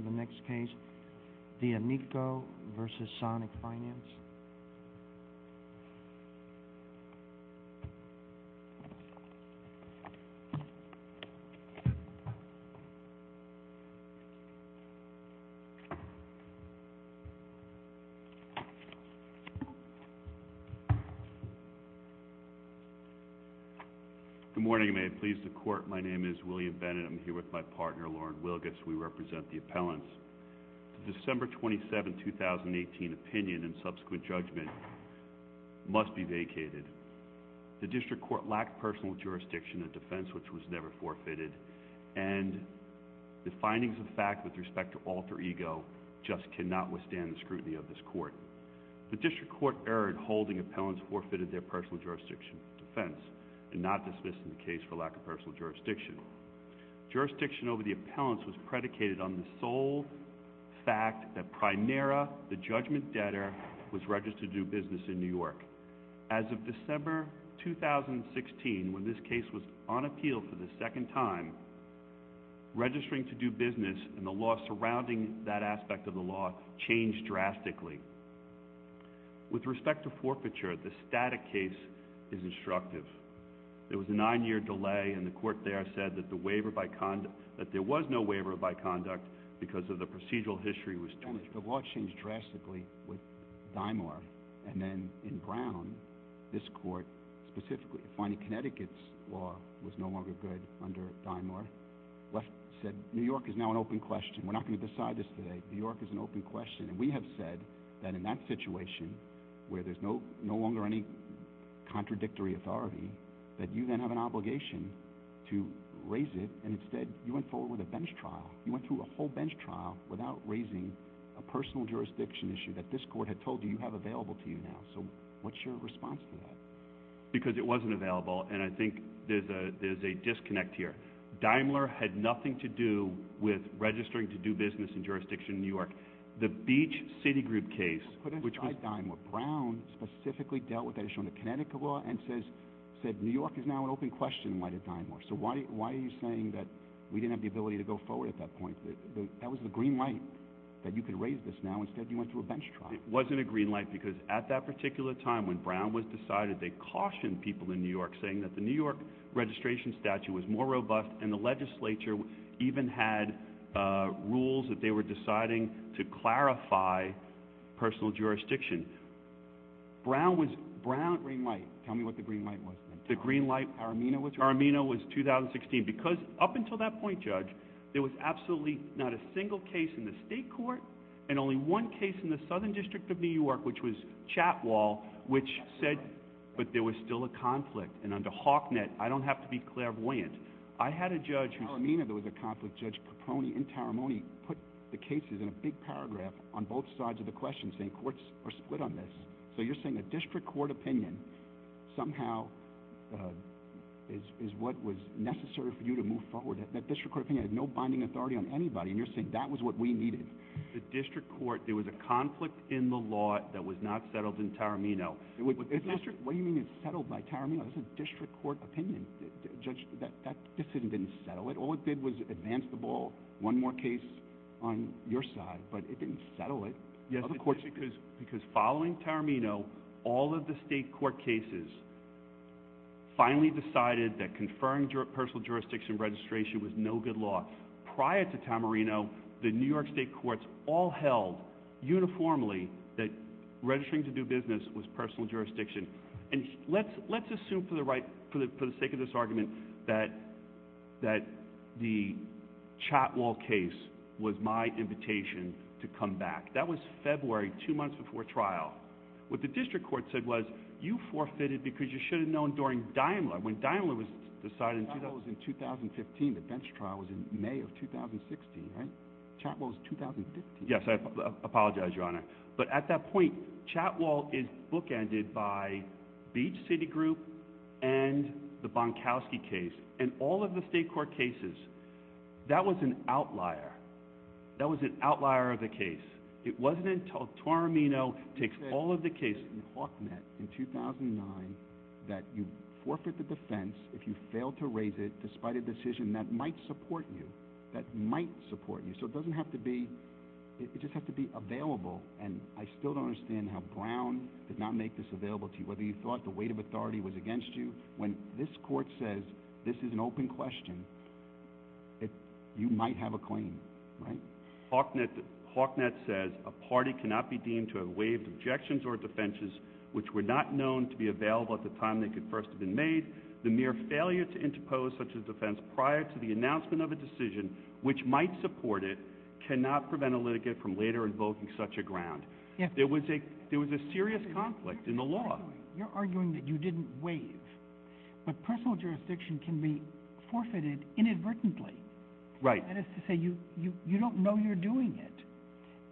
ncA t and I. Good morning and may it please the court. My name is William Bennett. I'm here with my partner, Lauren Wilgus. We represent the appellants. The December 27, 2018, opinion and subsequent judgment must be vacated. The district court lacked personal jurisdiction and defense, which was never forfeited, and the findings of fact with respect to alter ego just cannot withstand the scrutiny of this court. The district court erred, holding appellants forfeited their personal jurisdiction and defense and not dismissing the case for lack of personal jurisdiction. Jurisdiction over the appellants was predicated on the whole fact that Primera, the judgment debtor, was registered to do business in New York. As of December 2016, when this case was on appeal for the second time, registering to do business and the law surrounding that aspect of the law changed drastically. With respect to forfeiture, the static case is instructive. There was a nine-year delay and the court there said that the waiver by conduct, that there was no waiver by conduct because of the procedural history was damaged. The law changed drastically with Dymar and then in Brown, this court specifically, finding Connecticut's law was no longer good under Dymar, said New York is now an open question. We're not going to decide this today. New York is an open question and we have said that in that situation where there's no longer any contradictory authority that you then have an obligation to raise it and instead you went forward with a bench trial. You went through a whole bench trial without raising a personal jurisdiction issue that this court had told you you have available to you now. So what's your response to that? Because it wasn't available and I think there's a disconnect here. Dymar had nothing to do with registering to do business in jurisdiction in New York. The Beach City Group case, which was- Put aside Dymar. Brown specifically dealt with that issue under Connecticut law and said New York is now an open question in light of Dymar. So why are you saying that we didn't have the ability to go forward at that point? That was the green light that you could raise this now. Instead you went through a bench trial. It wasn't a green light because at that particular time when Brown was decided, they cautioned people in New York saying that the New York registration statute was more robust and the legislature even had rules that they were deciding to clarify personal jurisdiction. Brown was- Green light. Tell me what the green light was. The green light- Armino was- Armino was 2016. Because up until that point, Judge, there was absolutely not a single case in the state court and only one case in the Southern District of New York, which was Chatwall, which said, but there was still a conflict and under Hawknett, I don't have to be clairvoyant. I had a judge- In Tarimino, there was a conflict. Judge Papone in Tarimoni put the cases in a big paragraph on both sides of the question saying courts are split on this. So you're saying a district court opinion somehow is what was necessary for you to move forward. That district court opinion had no binding authority on anybody and you're saying that was what we needed. The district court, there was a conflict in the law that was not settled in Tarimino. What do you mean it's settled by Tarimino? That's a district court opinion. Judge, that decision didn't settle it. All it did was advance the ball one more case on your side, but it didn't settle it. Yes, because following Tarimino, all of the state court cases finally decided that conferring personal jurisdiction registration was no good law. Prior to Tarimino, the New York state courts all held uniformly that registering to do business was personal jurisdiction. Let's assume for the sake of this argument that the Chatwell case was my invitation to come back. That was February, two months before trial. What the district court said was, you forfeited because you should have known during Daimler. When Daimler was decided in- Chatwell was in 2015. The bench trial was in May of 2016. Chatwell was 2015. Yes, I apologize, Your Honor. But at that point, Chatwell is bookended by Beach City Group and the Bonkowski case, and all of the state court cases. That was an outlier. That was an outlier of the case. It wasn't until Tarimino takes all of the cases. Hawke met in 2009 that you forfeit the defense if you fail to raise it despite a decision that might support you, that might support you. It just has to be available. I still don't understand how Brown did not make this available to you, whether you thought the weight of authority was against you. When this court says, this is an open question, you might have a claim, right? Hawke met says, a party cannot be deemed to have waived objections or defenses which were not known to be available at the time they could first have been made. The mere failure to interpose such a defense prior to the announcement of a decision which might support it cannot prevent a litigant from later invoking such a ground. There was a serious conflict in the law. You're arguing that you didn't waive, but personal jurisdiction can be forfeited inadvertently. That is to say, you don't know you're doing it.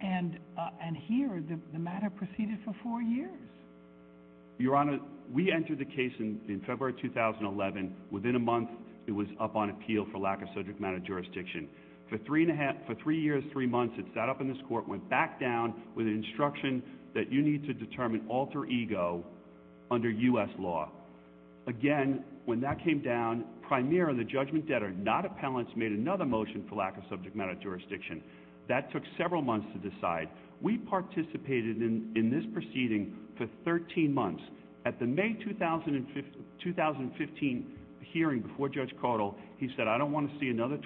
And here, the matter proceeded for four years. Your Honor, we entered the jurisdiction. For three years, three months, it sat up in this court, went back down with instruction that you need to determine alter ego under U.S. law. Again, when that came down, Premier and the judgment debtor, not appellants, made another motion for lack of subject matter jurisdiction. That took several months to decide. We participated in this proceeding for 13 months. At the May 2015 hearing before Judge Caudill, he said, I don't want to see another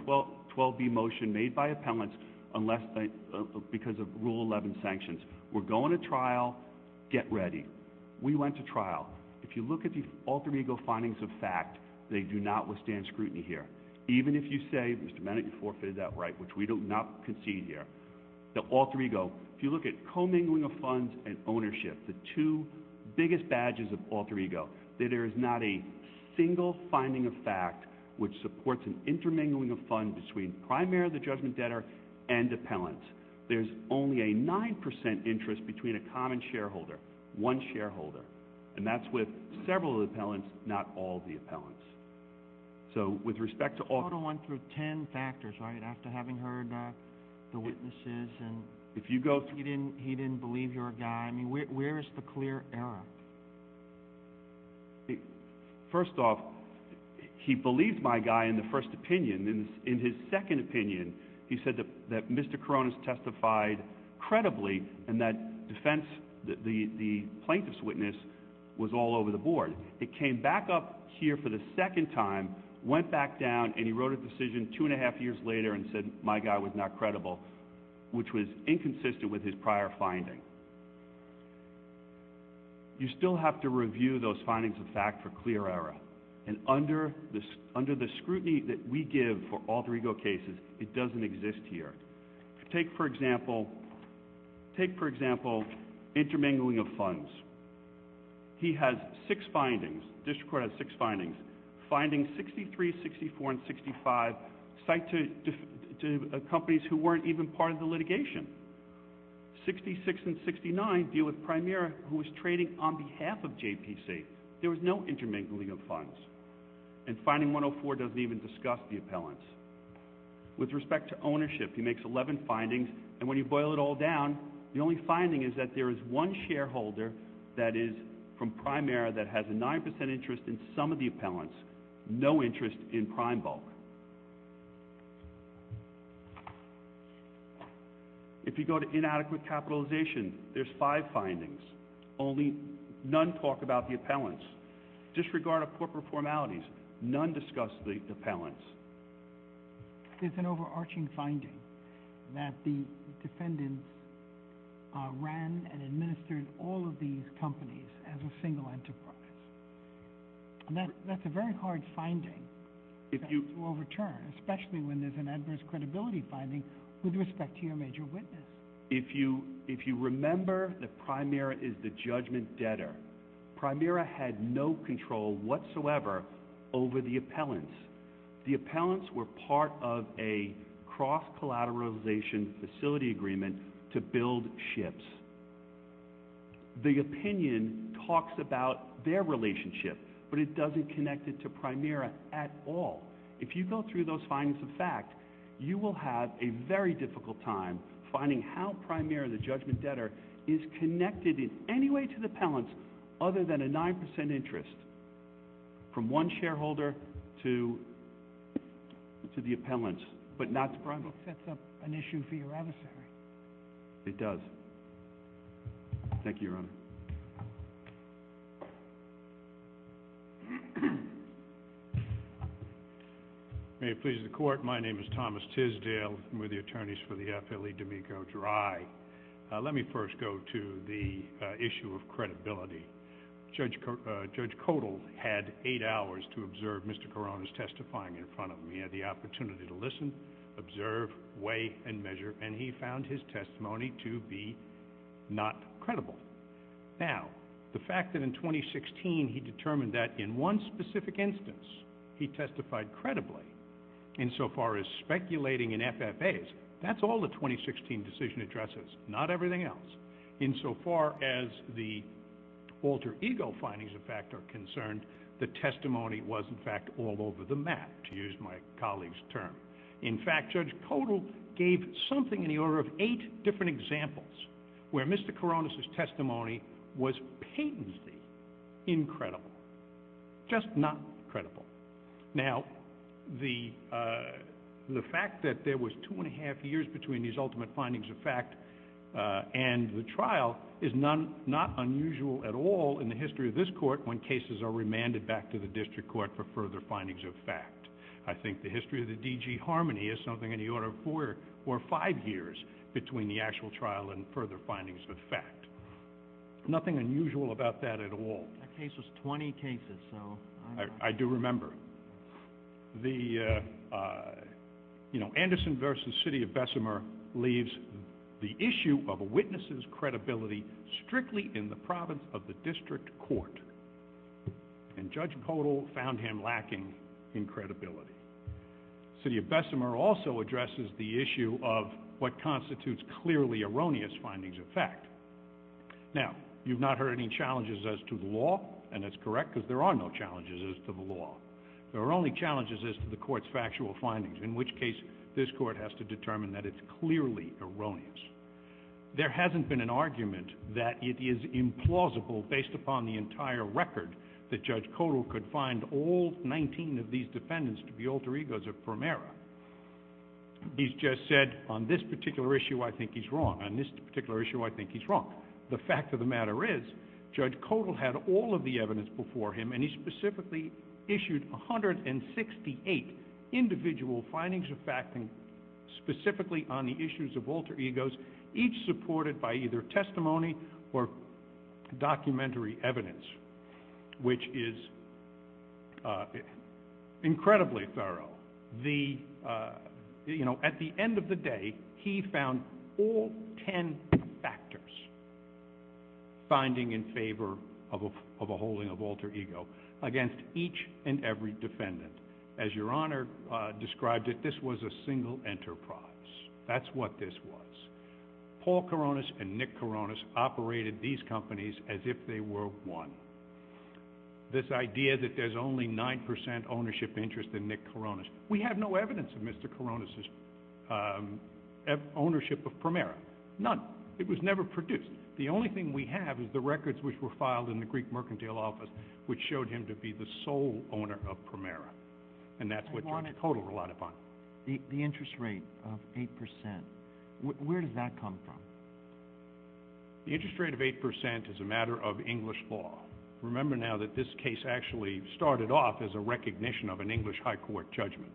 12B motion made by appellants because of Rule 11 sanctions. We're going to trial. Get ready. We went to trial. If you look at the alter ego findings of fact, they do not withstand scrutiny here. Even if you say, Mr. Bennett, you forfeited that right, which we do not concede here, the alter ego, if you look at commingling of funds and ownership, the two biggest badges of alter ego, that there is not a single finding of fact which supports an intermingling of funds between Premier, the judgment debtor, and appellants. There's only a 9% interest between a common shareholder, one shareholder. And that's with several of the appellants, not all the appellants. So with respect to alter ego- Total one through 10 factors, right? After having heard the witnesses and- He didn't believe you're a guy. I mean, where is the clear error? First off, he believed my guy in the first opinion. In his second opinion, he said that Mr. Coronas testified credibly, and that defense, the plaintiff's witness was all over the board. It came back up here for the second time, went back down, and he wrote a decision two and a half years later that was not credible, which was inconsistent with his prior finding. You still have to review those findings of fact for clear error. And under the scrutiny that we give for alter ego cases, it doesn't exist here. Take, for example, intermingling of funds. He has six findings. District Court has six findings. Findings 63, 64, and 65 cite to companies who weren't even part of the litigation. 66 and 69 deal with Primera, who was trading on behalf of JPC. There was no intermingling of funds. And finding 104 doesn't even discuss the appellants. With respect to ownership, he makes 11 findings. And when you boil it all down, the only finding is that there is one shareholder that is from Primera that has a 9% interest in some of the appellants, no interest in prime bulk. If you go to inadequate capitalization, there's five findings. Only none talk about the appellants. Disregard of corporate formalities, none discuss the appellants. It's an overarching finding that the defendants ran and administered all of these companies as a single enterprise. And that's a very hard finding to overturn, especially when there's an adverse credibility finding with respect to your major witness. If you remember that Primera is the judgment debtor, Primera had no control whatsoever over the appellants. The appellants were part of a cross-collateralization facility agreement to build ships. The opinion talks about their relationship, but it doesn't connect it to Primera at all. If you go through those findings of fact, you will have a very difficult time finding how Primera, the judgment debtor, is connected in any way to the appellants other than a 9% interest from one shareholder to the appellants, but not to Primera. That book sets up an issue for your adversary. It does. Thank you, Your Honor. May it please the Court, my name is Thomas Tisdale. I'm with the attorneys for the FLE, D'Amico Dry. Let me first go to the issue of credibility. Judge Codal had eight hours to observe Mr. Corona's testifying in front of him. He had the opportunity to listen, observe, weigh, and measure, and he found his testimony to be not credible. Now, the fact that in 2016 he determined that in one specific instance he testified credibly, insofar as speculating in FFAs, that's all the 2016 decision addresses, not everything else. Insofar as the alter ego findings of fact are concerned, the testimony was in fact all over the map, to use my colleague's term. In fact, Judge Codal gave something in the order of eight different examples where Mr. Corona's testimony was patently incredible, just not credible. Now, the fact that there was two and a half years between these ultimate findings of fact and the trial is not unusual at all in the history of this Court when cases are remanded back to the District Court for further findings of fact. I think the history of the DG Harmony is something in the order of four or five years between the actual trial and further findings of fact. Nothing unusual about that at all. That case was 20 cases, so I don't know. I do remember. The, you know, Anderson v. City of Bessemer leaves the issue of a witness's credibility strictly in the province of the District Court, and Judge Codal found him lacking in credibility. City of Bessemer also addresses the issue of what constitutes clearly erroneous findings of fact. Now, you've not heard any challenges as to the law, and that's correct because there are no challenges as to the law. There are only challenges as to the Court's factual findings, in which case this Court has to determine that it's clearly erroneous. There hasn't been an argument that it is implausible, based upon the entire record, that Judge Codal could find all 19 of these defendants to be alter egos of Primera. He's just said, on this particular issue, I think he's wrong. On this particular issue, I think he's wrong. The fact of the matter is, Judge Codal had all of the specifically on the issues of alter egos, each supported by either testimony or documentary evidence, which is incredibly thorough. The, you know, at the end of the day, he found all 10 factors finding in favor of a holding of alter ego against each and every single enterprise. That's what this was. Paul Koronis and Nick Koronis operated these companies as if they were one. This idea that there's only 9 percent ownership interest in Nick Koronis, we have no evidence of Mr. Koronis' ownership of Primera. None. It was never produced. The only thing we have is the records which were filed in the Greek Mercantile Office, which showed him to be the sole owner of Primera. And that's what Judge Codal relied upon. The interest rate of 8 percent, where does that come from? The interest rate of 8 percent is a matter of English law. Remember now that this case actually started off as a recognition of an English high court judgment.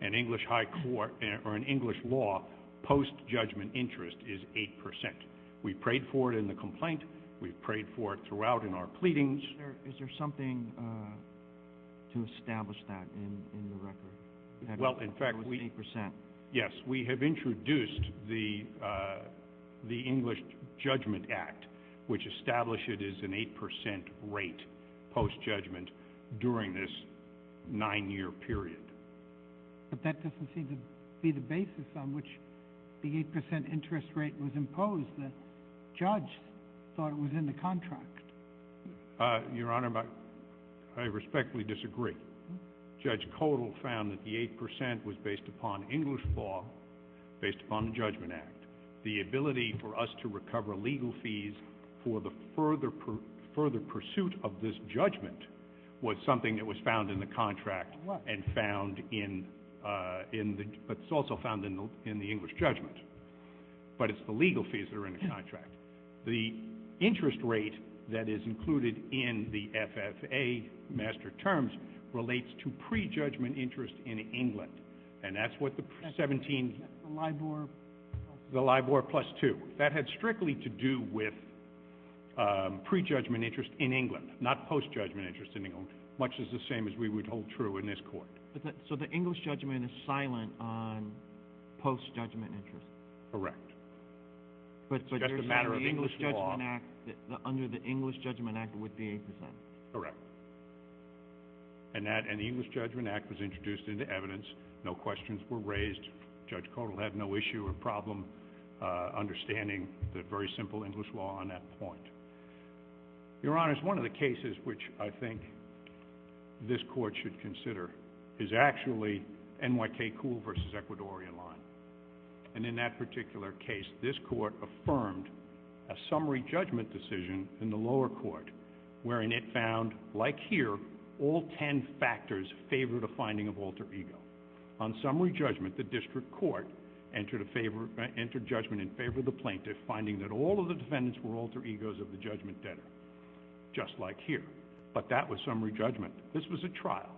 An English high court or an English law post-judgment interest is 8 percent. We prayed for it in the complaint. We've prayed for it throughout in our pleadings. Is there something to establish that in the record? Well, in fact, yes, we have introduced the English Judgment Act, which established it as an 8 percent rate post-judgment during this nine-year period. But that doesn't seem to be the basis on which the 8 percent interest rate was imposed. The judge thought it was in the contract. Your Honor, I respectfully disagree. Judge Codal found that the 8 percent was based upon English law, based upon the Judgment Act. The ability for us to recover legal fees for the further pursuit of this judgment was something that was found in the contract, but it's also found in the English judgment. But it's the legal fees that are in the contract. The interest rate that is included in the FFA master terms relates to pre-judgment interest in England, and that's what the 17... That's the LIBOR plus 2. The LIBOR plus 2. That had strictly to do with pre-judgment interest in England, not post-judgment interest in England, much as the same as we would hold true in this court. So the English judgment is silent on post-judgment interest? Correct. It's just a matter of English law. Under the English Judgment Act, it would be 8 percent? Correct. And the English Judgment Act was introduced into evidence. No questions were raised. Judge Codal had no issue or problem understanding the very simple English law on that point. Your Honor, one of the cases which I think this court should consider is actually NYK Cool v. Ecuadorian Law. And in that particular case, this court affirmed a summary judgment decision in the lower court, wherein it found, like here, all 10 factors favor the finding of alter ego. On summary judgment, the district court entered judgment in favor of the plaintiff, finding that all of the defendants were alter egos of the judgment debtor, just like here. But that was summary judgment. This was a trial.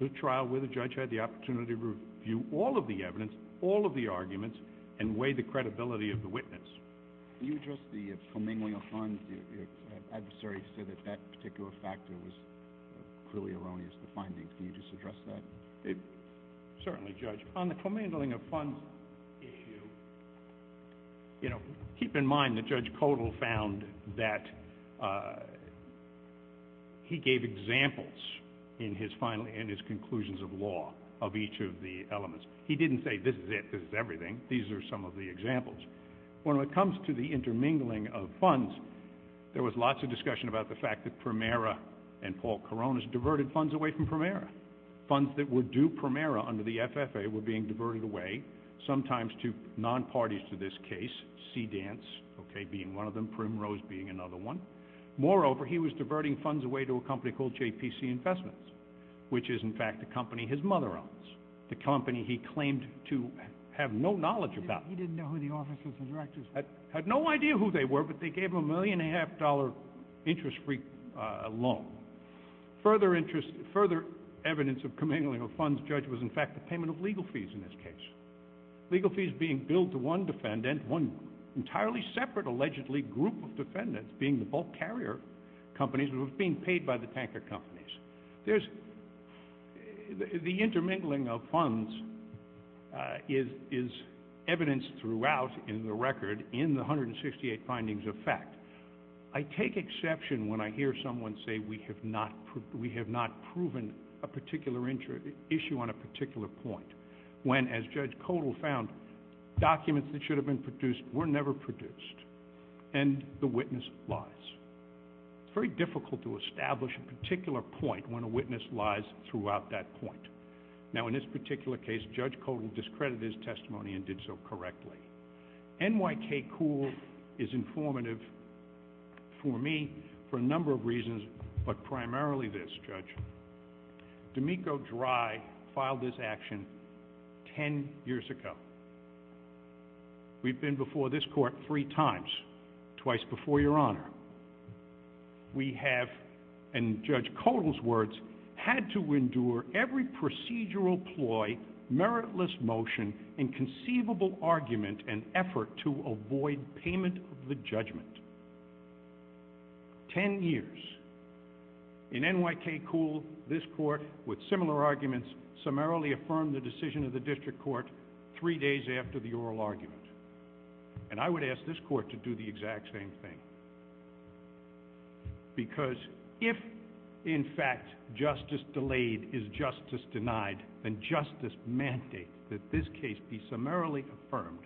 It was a trial where the judge had the opportunity to review all of the evidence, all of the arguments, and weigh the credibility of the witness. Can you address the commingling of funds? Your adversary said that that particular factor was clearly erroneous, the findings. Can you just address that? Certainly, Judge. On the commingling of funds issue, you know, keep in mind that Judge Codal found that he gave examples in his conclusions of law of each of the elements. He didn't say this is it, this is everything. These are some of the examples. When it comes to the intermingling of funds, there was lots of discussion about the Primera under the FFA were being diverted away, sometimes to non-parties to this case, C-Dance being one of them, Primrose being another one. Moreover, he was diverting funds away to a company called JPC Investments, which is, in fact, the company his mother owns, the company he claimed to have no knowledge about. He didn't know who the officers and directors were? Had no idea who they were, but they gave him a million and a half dollar interest-free loan. Further evidence of commingling of funds, Judge, was, in fact, the payment of legal fees in this case. Legal fees being billed to one defendant, one entirely separate, allegedly, group of defendants, being the bulk carrier companies that were being paid by the tanker companies. The intermingling of funds is evidenced throughout in the record in the 168 findings of fact. I take exception when I hear someone say, we have not proven a particular issue on a particular point, when, as Judge Kodal found, documents that should have been produced were never produced, and the witness lies. It's very difficult to establish a particular point when a witness lies throughout that point. Now, in this particular case, Judge Kodal discredited his testimony and did so correctly. NYK Coole is informative for me for a number of reasons, but primarily this, Judge. D'Amico Dry filed this action 10 years ago. We've been before this court three times, twice before your honor. We have, in Judge Kodal's words, had to endure every procedural ploy, meritless motion, inconceivable argument, and effort to avoid payment of the judgment. 10 years. In NYK Coole, this court, with similar arguments, summarily affirmed the decision of the district court three days after the oral argument. And I would ask this court to do the exact same thing. Because if, in fact, justice delayed is justice denied, then justice mandates that this case be summarily affirmed,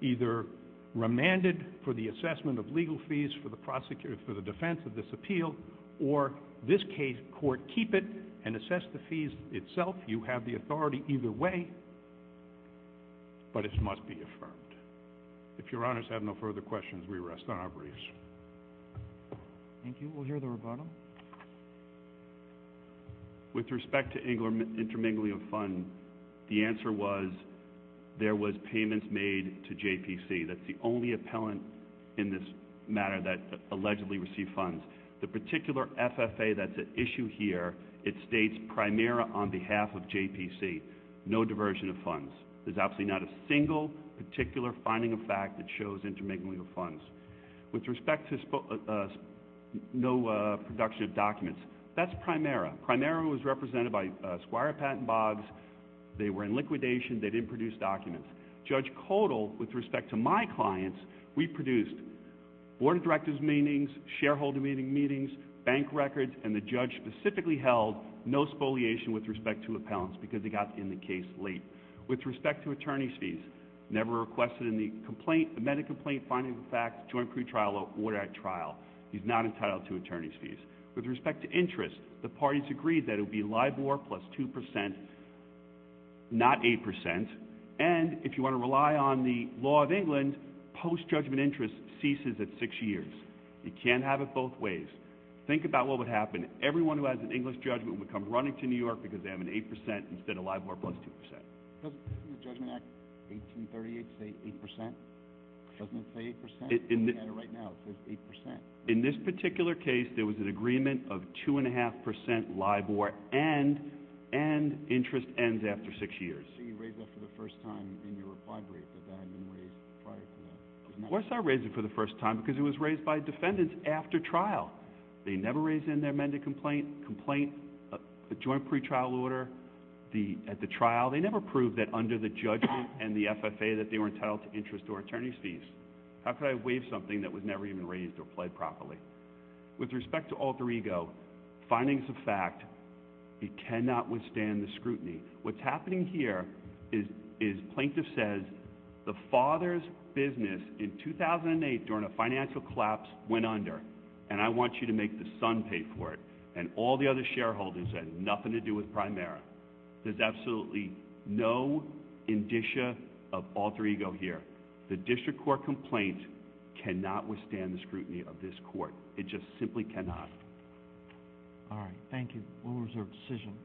either remanded for the assessment of legal fees for the defense of this appeal, or this case, court, keep it and assess the fees itself. You have the authority either way, but it must be affirmed. If your honors have no further questions, we rest on our briefs. Thank you. We'll hear the rebuttal. With respect to intermingling of funds, the answer was there was payments made to JPC. That's the only appellant in this matter that allegedly received funds. The particular FFA that's at issue here, it states Primera on behalf of JPC. No diversion of funds. There's absolutely not a single particular finding of fact that shows intermingling of funds. With respect to no production of documents, that's Primera. Primera was represented by Squire, Patton, Boggs. They were in liquidation. They didn't produce documents. Judge Kodal, with respect to my clients, we produced board of directors meetings, shareholder meetings, bank records, and the judge specifically held no spoliation with respect to appellants, because they got in the case late. With respect to attorney's fees, never requested in the complaint, amended complaint, finding of fact, joint pretrial or order at trial. He's not entitled to attorney's fees. With respect to interest, the parties agreed that it would be LIBOR plus 2%, not 8%. And if you want to rely on the law of England, post-judgment interest ceases at six years. You can't have it both ways. Think about what would happen if everyone who has an English judgment would come running to New York because they have an 8% instead of LIBOR plus 2%. Doesn't the Judgment Act 1838 say 8%? Doesn't it say 8%? We're looking at it right now. It says 8%. In this particular case, there was an agreement of 2.5% LIBOR and interest ends after six years. So you raised that for the first time in your reply brief that that had been raised prior to that? Of course I raised it for the first time because it was raised by defendants after trial. They never raised an amended complaint, a joint pretrial order at the trial. They never proved that under the judgment and the FFA that they were entitled to interest or attorney's fees. How could I waive something that was never even raised or pled properly? With respect to alter ego, findings of fact, it cannot withstand the scrutiny. What's happening here is plaintiff says the father's business in 2008 during a financial collapse went under, and I want you to make the son pay for it, and all the other shareholders said nothing to do with Primera. There's absolutely no indicia of alter ego here. The district court complaint cannot withstand the scrutiny of this court. It just simply cannot. All right. Thank you. We'll reserve the decision.